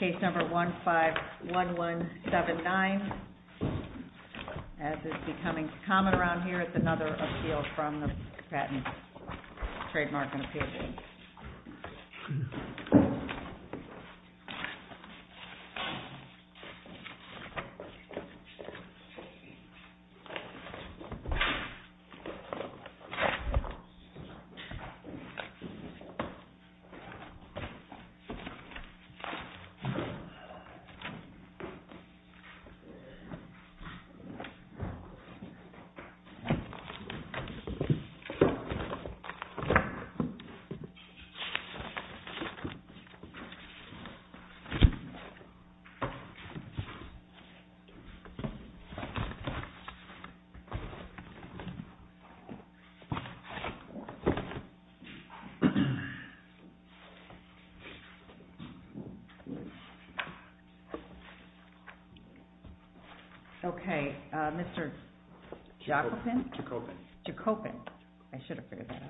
Case number 151179, as is becoming common around here, is another appeal from the Patent Trademark and Appeal. Okay, Mr. Jacobin? I should have figured that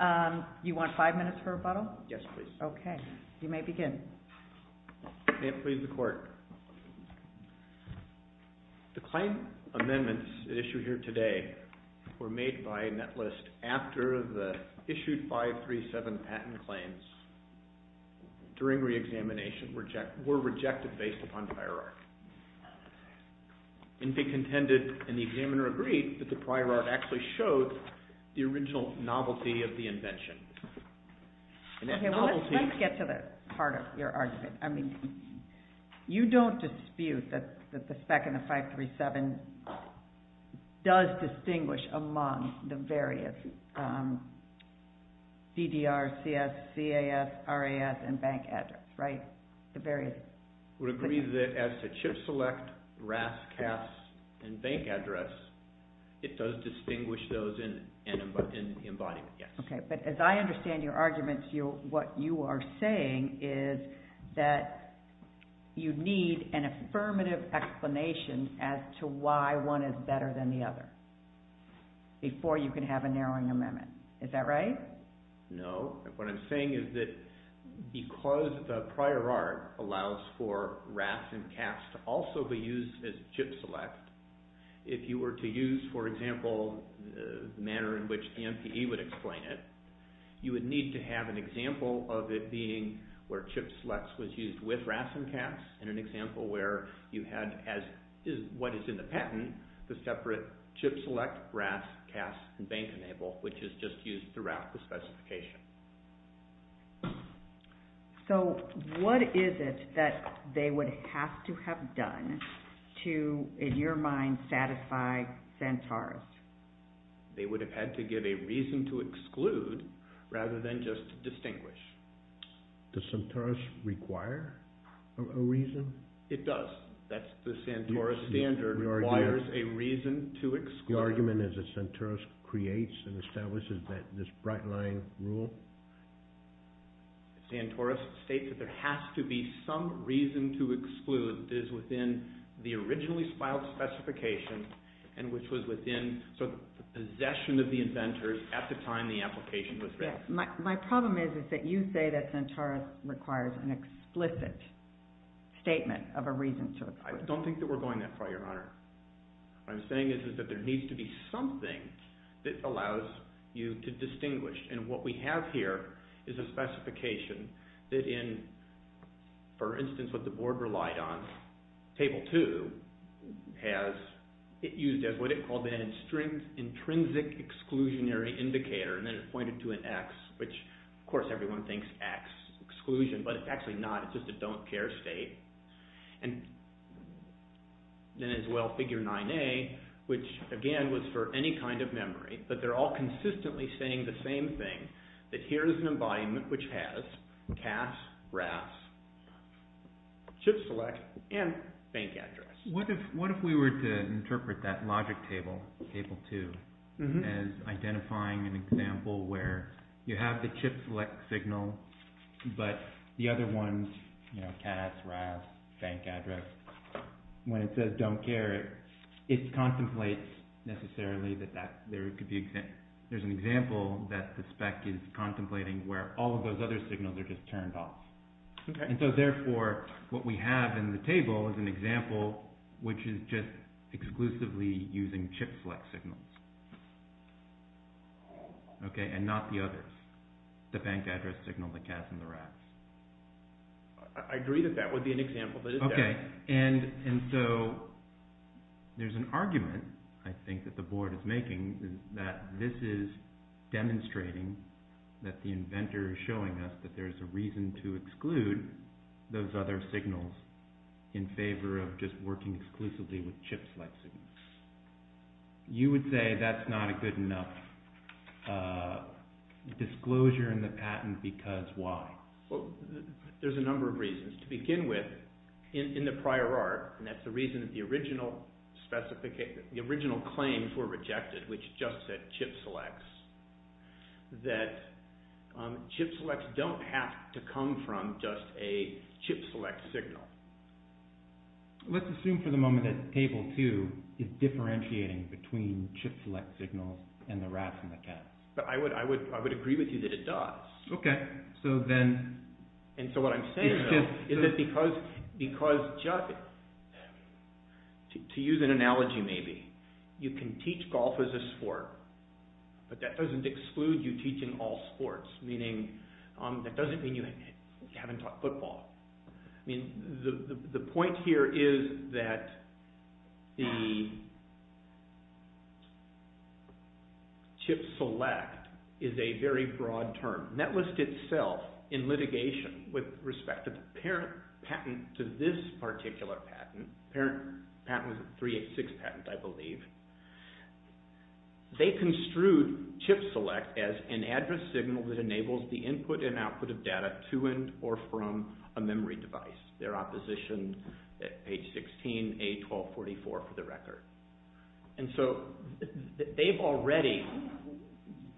out. You want five minutes for rebuttal? Yes, please. Okay. You may begin. May it please the Court. The claim amendments issued here today were made by Netlist after the issued 537 patent claims during reexamination were rejected based upon hierarchy. Inphi contended, and the examiner agreed, that the prior art actually shows the original novelty of the invention. Okay, well let's get to the heart of your argument. I mean, you don't dispute that the spec in the 537 does distinguish among the various DDR, CS, CAS, RAS, and bank address, right? I would agree that as to chip select, RAS, CAS, and bank address, it does distinguish those in embodiment, yes. Okay, but as I understand your argument, what you are saying is that you need an affirmative explanation as to why one is better than the other, before you can have a narrowing amendment. Is that right? No. What I'm saying is that because the prior art allows for RAS and CAS to also be used as chip select, if you were to use, for example, the manner in which the MPE would explain it, you would need to have an example of it being where chip select was used with RAS and CAS, and an example where you had as what is in the patent, the separate chip select, RAS, CAS, and bank enable, which is just used throughout the specification. So, what is it that they would have to have done to, in your mind, satisfy Santars? They would have had to give a reason to exclude, rather than just to distinguish. Does Santars require a reason? It does. The Santars standard requires a reason to exclude. The argument is that Santars creates and establishes this bright line rule. Santars states that there has to be some reason to exclude that is within the originally filed specification, and which was within the possession of the inventors at the time the application was written. My problem is that you say that Santars requires an explicit statement of a reason to exclude. I don't think that we're going that far, Your Honor. What I'm saying is that there needs to be something that allows you to distinguish, and what we have here is a specification that in, for instance, what the board relied on, Table 2 has it used as what it called an intrinsic exclusionary indicator, and then it pointed to an X, which, of course, everyone thinks X, exclusion, but it's actually not. It's just a don't care state, and then as well, Figure 9A, which, again, was for any kind of memory, but they're all consistently saying the same thing, that here is an embodiment which has CAS, RAS, chip select, and bank address. What if we were to interpret that logic table, Table 2, as identifying an example where you have the chip select signal, but the other ones, you know, CAS, RAS, bank address, when it says don't care, it contemplates necessarily that there's an example that the spec is contemplating where all of those other signals are just turned off, and so, therefore, what we have in the table is an example which is just exclusively using chip select signals, and not the others, the bank address signal, the CAS, and the RAS. I agree that that would be an example, but is that? Okay, and so there's an argument, I think, that the board is making that this is demonstrating that the inventor is showing us that there's a reason to exclude those other signals in favor of just working exclusively with chip select signals. You would say that's not a good enough disclosure in the patent because why? Well, there's a number of reasons. To begin with, in the prior art, and that's the reason that the original claims were rejected, which just said chip selects, that chip selects don't have to come from just a chip select signal. Let's assume for the moment that Table 2 is differentiating between chip select signals and the RAS and the CAS. But I would agree with you that it does. Okay, so then... And so what I'm saying is that because, to use an analogy maybe, you can teach golf as a sport, but that doesn't exclude you teaching all sports, meaning that doesn't mean you haven't taught football. The point here is that the chip select is a very broad term. Netlist itself, in litigation with respect to the parent patent to this particular patent, the parent patent was a 386 patent, I believe, they construed chip select as an address signal that enables the input and output of data to and or from a memory device. Their opposition, page 16, A1244, for the record. And so they've already,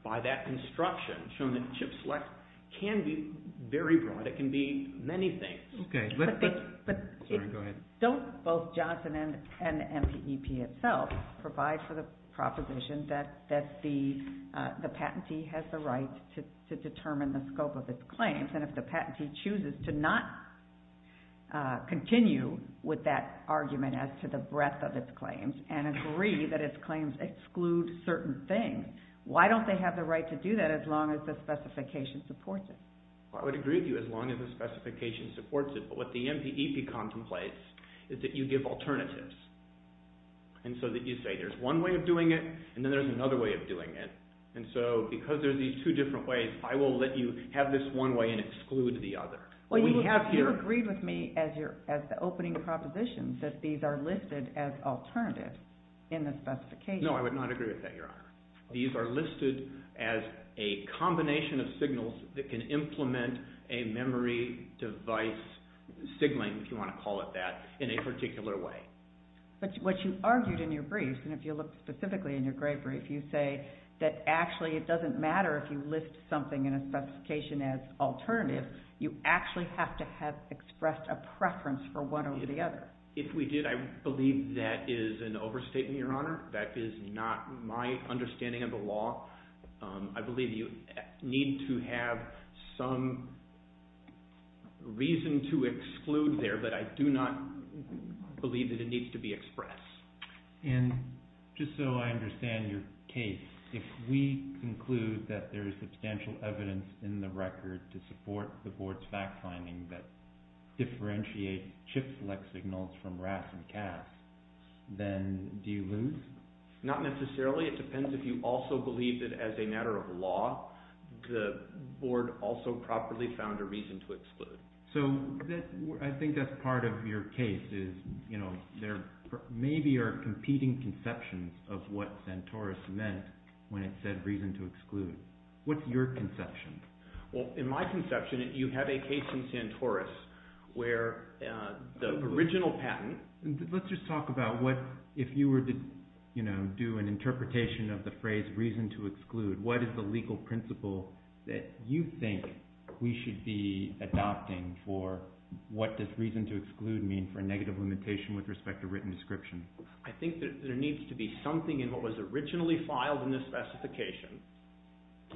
by that construction, shown that chip select can be very broad. It can be many things. Don't both Johnson and MPEP itself provide for the proposition that the patentee has the right to determine the scope of its claims, and if the patentee chooses to not continue with that argument as to the breadth of its claims, and agree that its claims exclude certain things, why don't they have the right to do that as long as the specification supports it? Well, I would agree with you as long as the specification supports it. But what the MPEP contemplates is that you give alternatives. And so that you say there's one way of doing it, and then there's another way of doing it. And so because there's these two different ways, I will let you have this one way and exclude the other. Well, you agreed with me as the opening proposition that these are listed as alternatives in the specification. No, I would not agree with that, Your Honor. These are listed as a combination of signals that can implement a memory device signaling, if you want to call it that, in a particular way. But what you argued in your brief, and if you look specifically in your gray brief, you say that actually it doesn't matter if you list something in a specification as alternative. You actually have to have expressed a preference for one or the other. If we did, I believe that is an overstatement, Your Honor. That is not my understanding of the law. I believe you need to have some reason to exclude there, but I do not believe that it needs to be expressed. And just so I understand your case, if we conclude that there is substantial evidence in the record to support the Board's fact-finding that differentiate chip-select signals from RAS and CAS, then do you lose? Not necessarily. It depends if you also believe that, as a matter of law, the Board also properly found a reason to exclude. So I think that is part of your case is there maybe are competing conceptions of what Santoros meant when it said reason to exclude. What is your conception? Well, in my conception, you have a case in Santoros where the original patent— Let's just talk about what, if you were to do an interpretation of the phrase reason to exclude, what is the legal principle that you think we should be adopting for what does reason to exclude mean for a negative limitation with respect to written description? I think that there needs to be something in what was originally filed in this specification,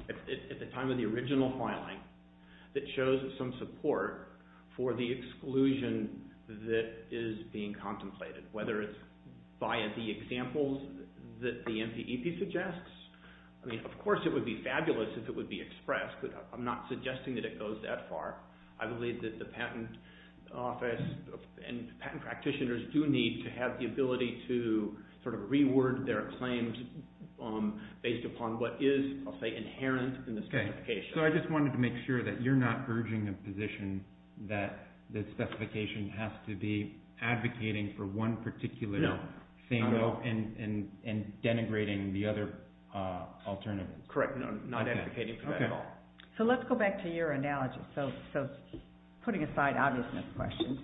at the time of the original filing, that shows some support for the exclusion that is being contemplated, whether it's via the examples that the NPEP suggests. I mean, of course it would be fabulous if it would be expressed, but I'm not suggesting that it goes that far. I believe that the Patent Office and patent practitioners do need to have the ability to sort of reword their claims based upon what is, I'll say, inherent in the specification. Okay. So I just wanted to make sure that you're not urging a position that the specification has to be advocating for one particular thing— No. —and denigrating the other alternatives. Correct. No, not advocating for that at all. Okay. Okay. So let's go back to your analogy. So putting aside obviousness questions,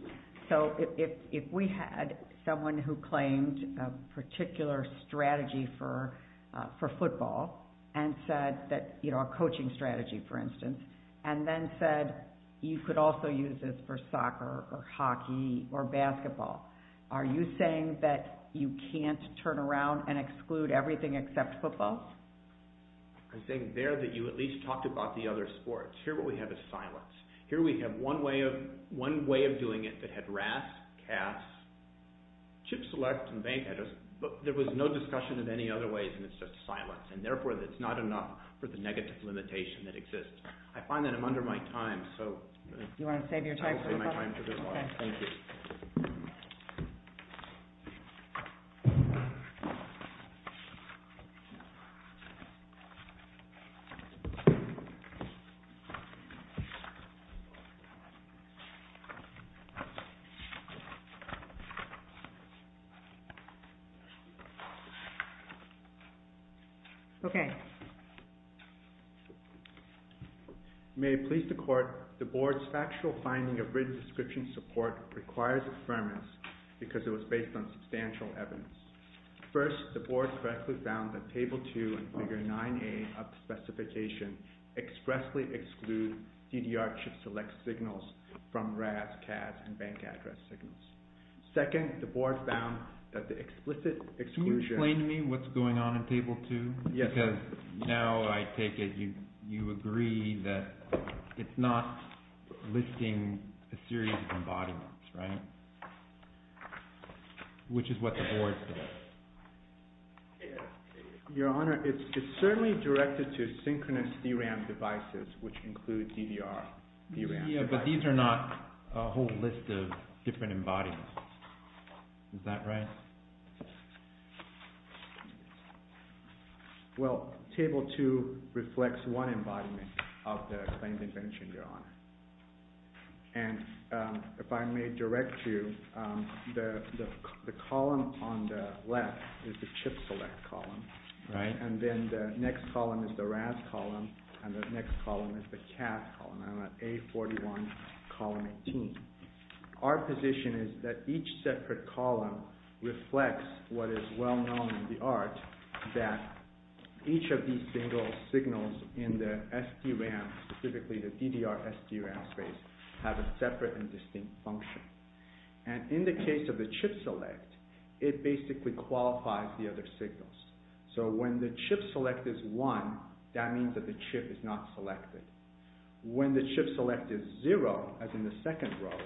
so if we had someone who claimed a particular strategy for football and said that, you know, a coaching strategy, for instance, and then said you could also use this for soccer or hockey or basketball, are you saying that you can't turn around and exclude everything except football? I'm saying there that you at least talked about the other sports. Here what we have is silence. Here we have one way of doing it that had RAS, CAS, chip select, and bank address, but there was no discussion of any other ways, and it's just silence. And therefore, it's not enough for the negative limitation that exists. I find that I'm under my time, so— You want to save your time? I'll save my time for this one. Okay. Thank you. Thank you. Okay. May it please the Court, the Board's factual finding of written description support requires affirmance because it was based on substantial evidence. First, the Board correctly found that Table 2 and Figure 9A of the specification expressly exclude CDR chip select signals from RAS, CAS, and bank address signals. Second, the Board found that the explicit exclusion— Can you explain to me what's going on in Table 2? Because now I take it you agree that it's not listing a series of embodiments, right? Which is what the Board says. Your Honor, it's certainly directed to synchronous DRAM devices, which include DDR. Yeah, but these are not a whole list of different embodiments. Is that right? Well, Table 2 reflects one embodiment of the claimed invention, Your Honor. And if I may direct you, the column on the left is the chip select column, and then the next column is the RAS column, and the next column is the CAS column. I'm at A41, column 18. Our position is that each separate column reflects what is well known in the art, that each of these single signals in the SD RAM, specifically the DDR SD RAM space, have a separate and distinct function. And in the case of the chip select, it basically qualifies the other signals. So when the chip select is 1, that means that the chip is not selected. When the chip select is 0, as in the second row,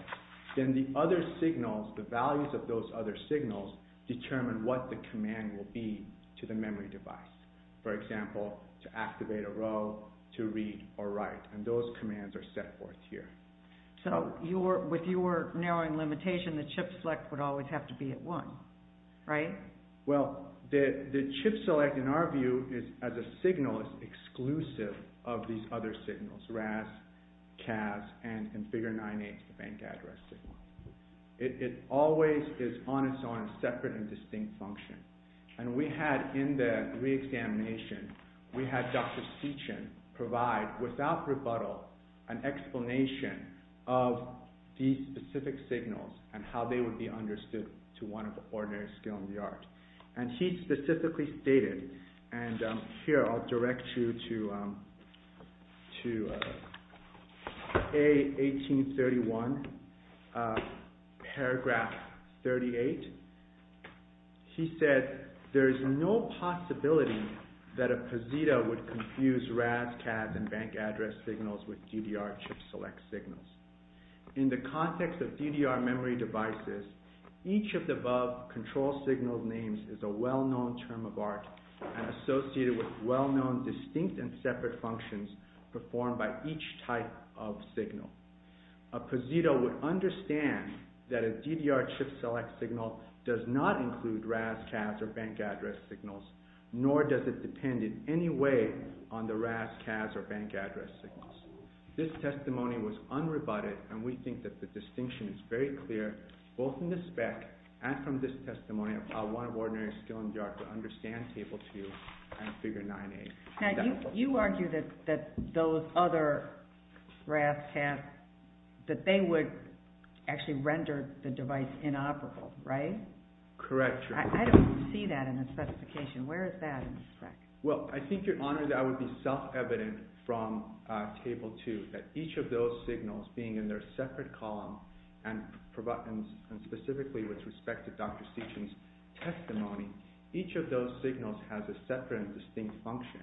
then the other signals, the values of those other signals, determine what the command will be to the memory device. For example, to activate a row, to read or write, and those commands are set forth here. So with your narrowing limitation, the chip select would always have to be at 1, right? Well, the chip select, in our view, as a signal, is exclusive of these other signals, RAS, CAS, and in figure 9-8, the bank address signal. It always is on its own, a separate and distinct function. And we had, in the re-examination, we had Dr. Seachin provide, without rebuttal, an explanation of these specific signals and how they would be understood to one of the ordinary skilled in the art. And he specifically stated, and here I'll direct you to A1831, paragraph 38. He said, there is no possibility that a POSITA would confuse RAS, CAS, and bank address signals with DDR chip select signals. In the context of DDR memory devices, each of the above control signal names is a well-known term of art and associated with well-known distinct and separate functions performed by each type of signal. A POSITA would understand that a DDR chip select signal does not include RAS, CAS, or bank address signals, nor does it depend in any way on the RAS, CAS, or bank address signals. This testimony was unrebutted, and we think that the distinction is very clear, both in the spec and from this testimony of how one of the ordinary skilled in the art could understand table 2 and figure 9-8. Now, you argue that those other RAS, CAS, that they would actually render the device inoperable, right? Correct. I don't see that in the specification. Where is that in the spec? Well, I think, Your Honor, that would be self-evident from table 2, that each of those signals, being in their separate column, and specifically with respect to Dr. Seachin's testimony, each of those signals has a separate and distinct function.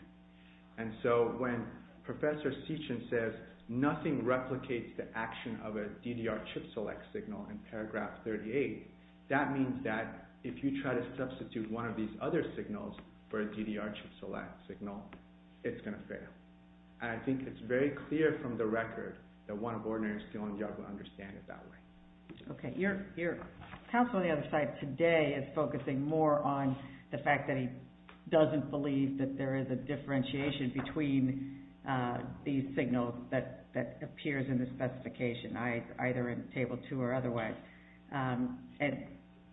And so when Professor Seachin says, nothing replicates the action of a DDR chip select signal in paragraph 38, that means that if you try to substitute one of these other signals for a DDR chip select signal, it's going to fail. And I think it's very clear from the record that one of ordinary skilled in the art would understand it that way. Okay. Your counsel on the other side today is focusing more on the fact that he doesn't believe that there is a differentiation between these signals that appears in the specification, either in table 2 or otherwise. And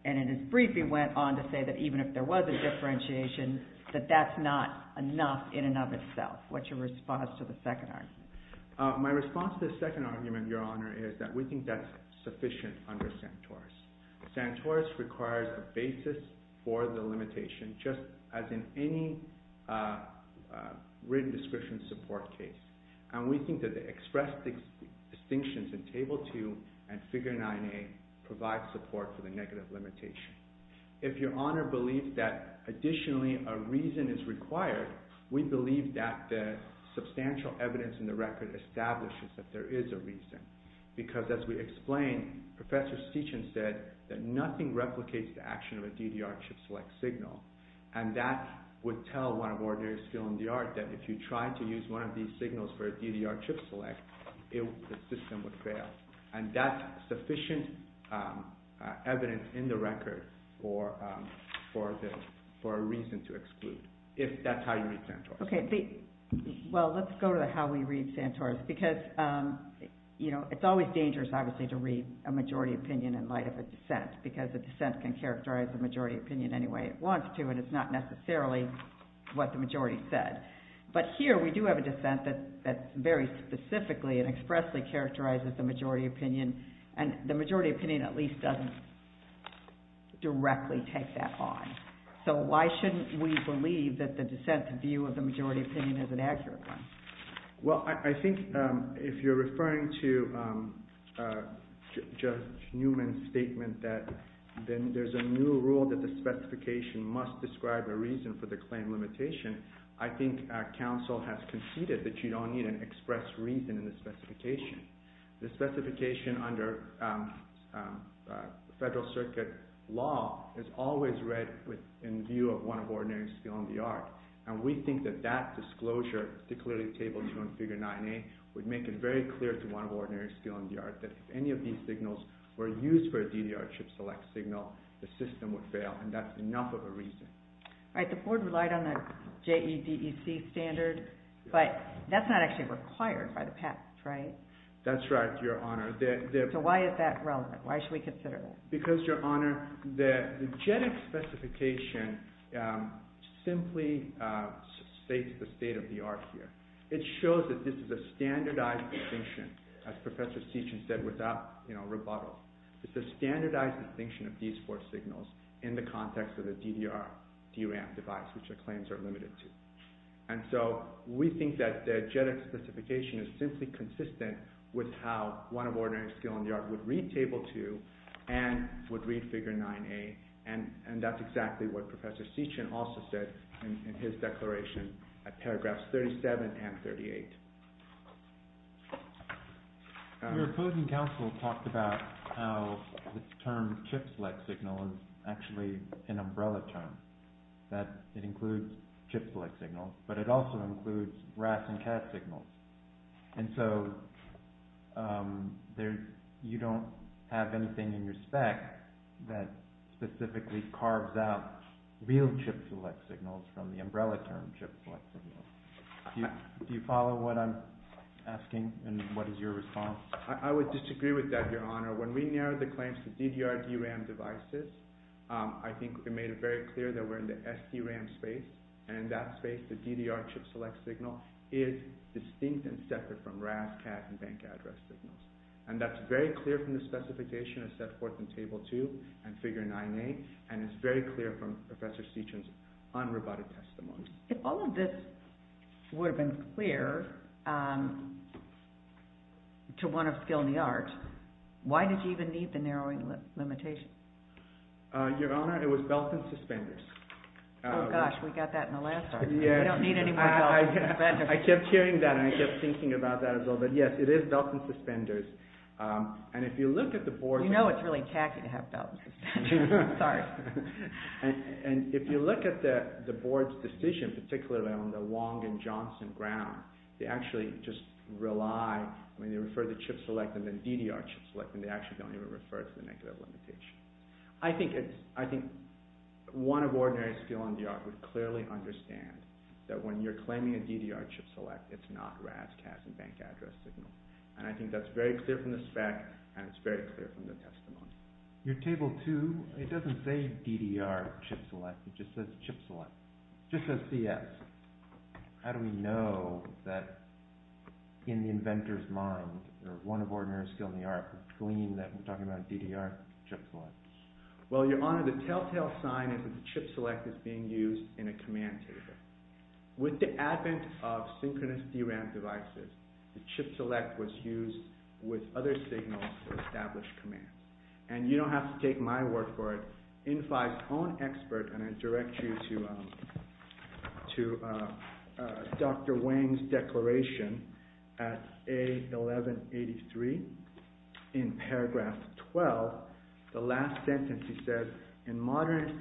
in his briefing went on to say that even if there was a differentiation, that that's not enough in and of itself. What's your response to the second argument? My response to the second argument, Your Honor, is that we think that's sufficient under Santoris. Santoris requires a basis for the limitation, just as in any written description support case. And we think that the expressed distinctions in table 2 and figure 9a provide support for the negative limitation. If Your Honor believes that additionally a reason is required, we believe that the substantial evidence in the record establishes that there is a reason. Because as we explained, Professor Steichen said that nothing replicates the action of a DDR chip select signal. And that would tell one of ordinary skilled in the art that if you try to use one of these signals for a DDR chip select, the system would fail. And that's sufficient evidence in the record for a reason to exclude, if that's how you read Santoris. OK. Well, let's go to how we read Santoris. Because it's always dangerous, obviously, to read a majority opinion in light of a dissent. Because a dissent can characterize the majority opinion any way it wants to, and it's not necessarily what the majority said. But here, we do have a dissent that very specifically and expressly characterizes the majority opinion. And the majority opinion at least doesn't directly take that on. So why shouldn't we believe that the dissent's view of the majority opinion is an accurate one? Well, I think if you're referring to Judge Newman's statement that there's a new rule that the specification must describe a reason for the claim limitation, I think counsel has conceded that you don't need an express reason in the specification. The specification under Federal Circuit law is always read in view of one of ordinary skilled in the art. And we think that that disclosure, particularly Table 2 and Figure 9a, would make it very clear to one of ordinary skilled in the art that if any of these signals were used for a DDR chip select signal, the system would fail. And that's enough of a reason. Right, the board relied on the JEDEC standard, but that's not actually required by the patent, right? That's right, Your Honor. So why is that relevant? Why should we consider that? Because, Your Honor, the JEDEC specification simply states the state of the art here. It shows that this is a standardized distinction, as Professor Sietchan said without rebuttal. It's a standardized distinction of these four signals in the context of the DDR, DRAM device, which the claims are limited to. And so we think that the JEDEC specification is simply consistent with how one of ordinary skilled in the art would read Table 2 and would read Figure 9a. And that's exactly what Professor Sietchan also said in his declaration at paragraphs 37 and 38. Your opposing counsel talked about how the term chip select signal is actually an umbrella term, that it includes chip select signals, but it also includes RAS and CAD signals. And so you don't have anything in your spec that specifically carves out real chip select signals from the umbrella term chip select signals. Do you follow what I'm asking and what is your response? I would disagree with that, Your Honor. When we narrowed the claims to DDR, DRAM devices, I think we made it very clear that we're in the SDRAM space, and in that space the DDR chip select signal is distinct and separate from RAS, CAD, and bank address signals. And that's very clear from the specification as set forth in Table 2 and Figure 9a, and it's very clear from Professor Sietchan's un-rebutted testimony. If all of this would have been clear to one of skilled in the art, why did you even need the narrowing limitation? Your Honor, it was belt and suspenders. Oh gosh, we got that in the last argument. We don't need any more belt and suspenders. I kept hearing that and I kept thinking about that as well, but yes, it is belt and suspenders. You know it's really tacky to have belt and suspenders. Sorry. And if you look at the board's decision, particularly on the Wong and Johnson ground, they actually just rely, I mean they refer to chip select and then DDR chip select and they actually don't even refer to the negative limitation. I think one of ordinary skilled in the art would clearly understand that when you're claiming a DDR chip select, it's not RAS, CAD, and bank address signals. And I think that's very clear from the spec and it's very clear from the testimony. Your Table 2, it doesn't say DDR chip select. It just says chip select. It just says CS. How do we know that in the inventor's mind or one of ordinary skilled in the art would claim that we're talking about a DDR chip select? Well, Your Honor, the telltale sign is that the chip select is being used in a command table. With the advent of synchronous DRAM devices, the chip select was used with other signals to establish commands. And you don't have to take my word for it. And I direct you to Dr. Wang's declaration at A1183 in paragraph 12. The last sentence, he says, in modern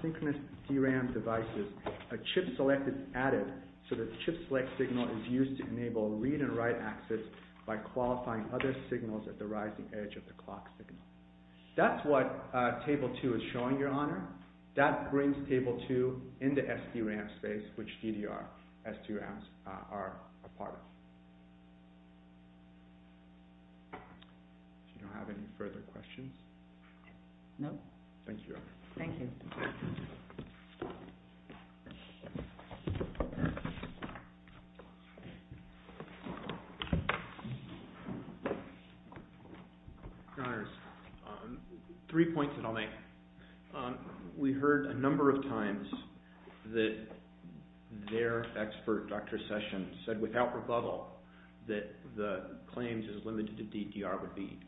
synchronous DRAM devices, a chip select is added so that chip select signal is used to enable read and write access by qualifying other signals at the rising edge of the clock signal. That's what Table 2 is showing, Your Honor. That brings Table 2 into SDRAM space, which DDR, SDRAMs are a part of. Do you have any further questions? Thank you, Your Honor. Thank you. Your Honor, three points that I'll make. We heard a number of times that their expert, Dr. Session, said without rebuttal that the claims as limited to DDR would be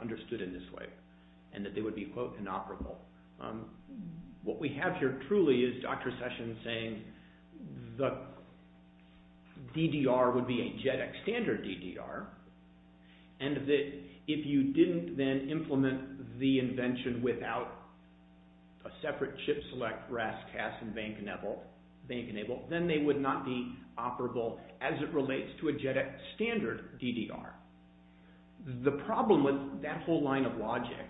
understood in this way and that they would be, quote, inoperable. What we have here truly is Dr. Session saying the DDR would be a JEDEC standard DDR and that if you didn't then implement the invention without a separate chip select RASCAS and bank enable, then they would not be operable as it relates to a JEDEC standard DDR. The problem with that whole line of logic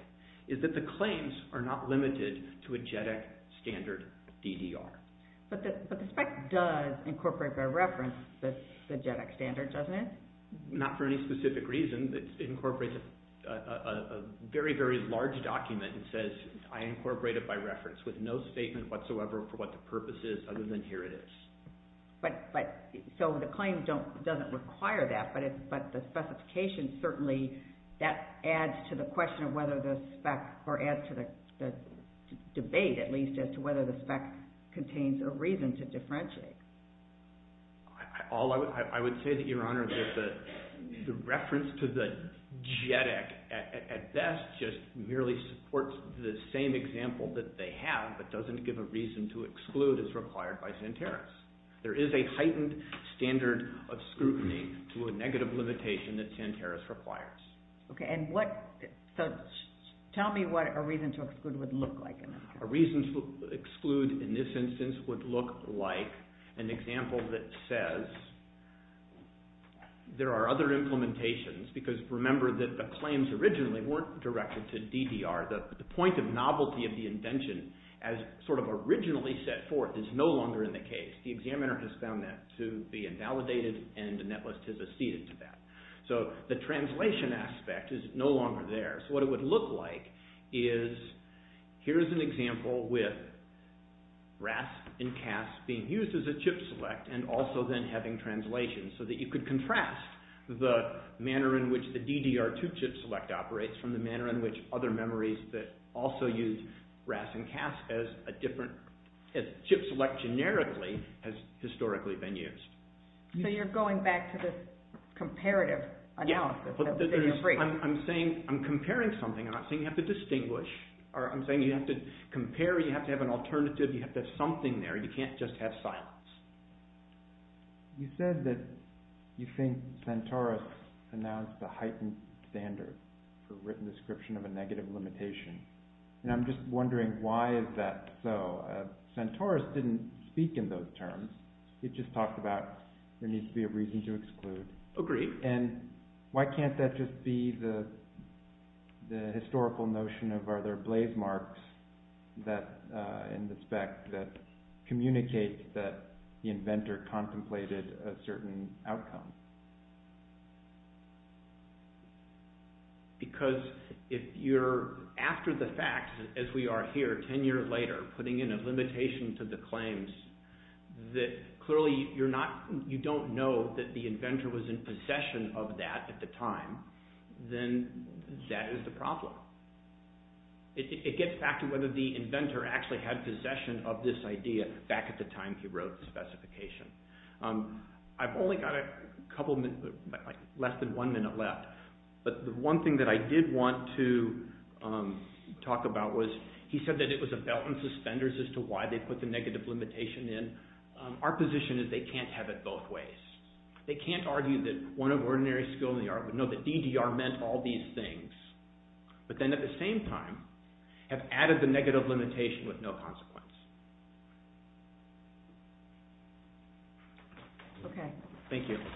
is that the claims are not limited to a JEDEC standard DDR. But the spec does incorporate by reference the JEDEC standard, doesn't it? Not for any specific reason. It incorporates a very, very large document and says, I incorporate it by reference with no statement whatsoever for what the purpose is other than here it is. So the claim doesn't require that, but the specification certainly that adds to the question of whether the spec or adds to the debate at least as to whether the spec contains a reason to differentiate. I would say that, Your Honor, that the reference to the JEDEC at best just merely supports the same example that they have, but doesn't give a reason to exclude as required by Santeros. There is a heightened standard of scrutiny to a negative limitation that Santeros requires. Okay, and what, so tell me what a reason to exclude would look like. A reason to exclude in this instance would look like an example that says there are other implementations because remember that the claims originally weren't directed to DDR. The point of novelty of the invention as sort of originally set forth is no longer in the case. The examiner has found that to be invalidated and the netlist has acceded to that. So the translation aspect is no longer there. So what it would look like is here is an example with RAS and CAS being used as a chip select and also then having translation so that you could contrast the manner in which the DDR2 chip select operates from the manner in which other memories that also use RAS and CAS as a different, as chip select generically has historically been used. So you're going back to this comparative analysis. I'm comparing something, I'm not saying you have to distinguish. I'm saying you have to compare, you have to have an alternative, you have to have something there, you can't just have silence. You said that you think Santeros announced a heightened standard for written description of a negative limitation and I'm just wondering why is that so? Santeros didn't speak in those terms. It just talked about there needs to be a reason to exclude. Agreed. And why can't that just be the historical notion of are there blaze marks in the spec that communicate that the inventor contemplated a certain outcome? Because if you're after the fact as we are here 10 years later putting in a limitation to the claims that clearly you don't know that the inventor was in possession of that at the time, then that is the problem. It gets back to whether the inventor actually had possession of this idea back at the time he wrote the specification. I've only got a couple, less than one minute left, but the one thing that I did want to talk about was he said that it was a belt and suspenders as to why they put the negative limitation in. Our position is they can't have it both ways. They can't argue that one of ordinary skill in the art would know that DDR meant all these things. But then at the same time have added the negative limitation with no consequence. Thank you.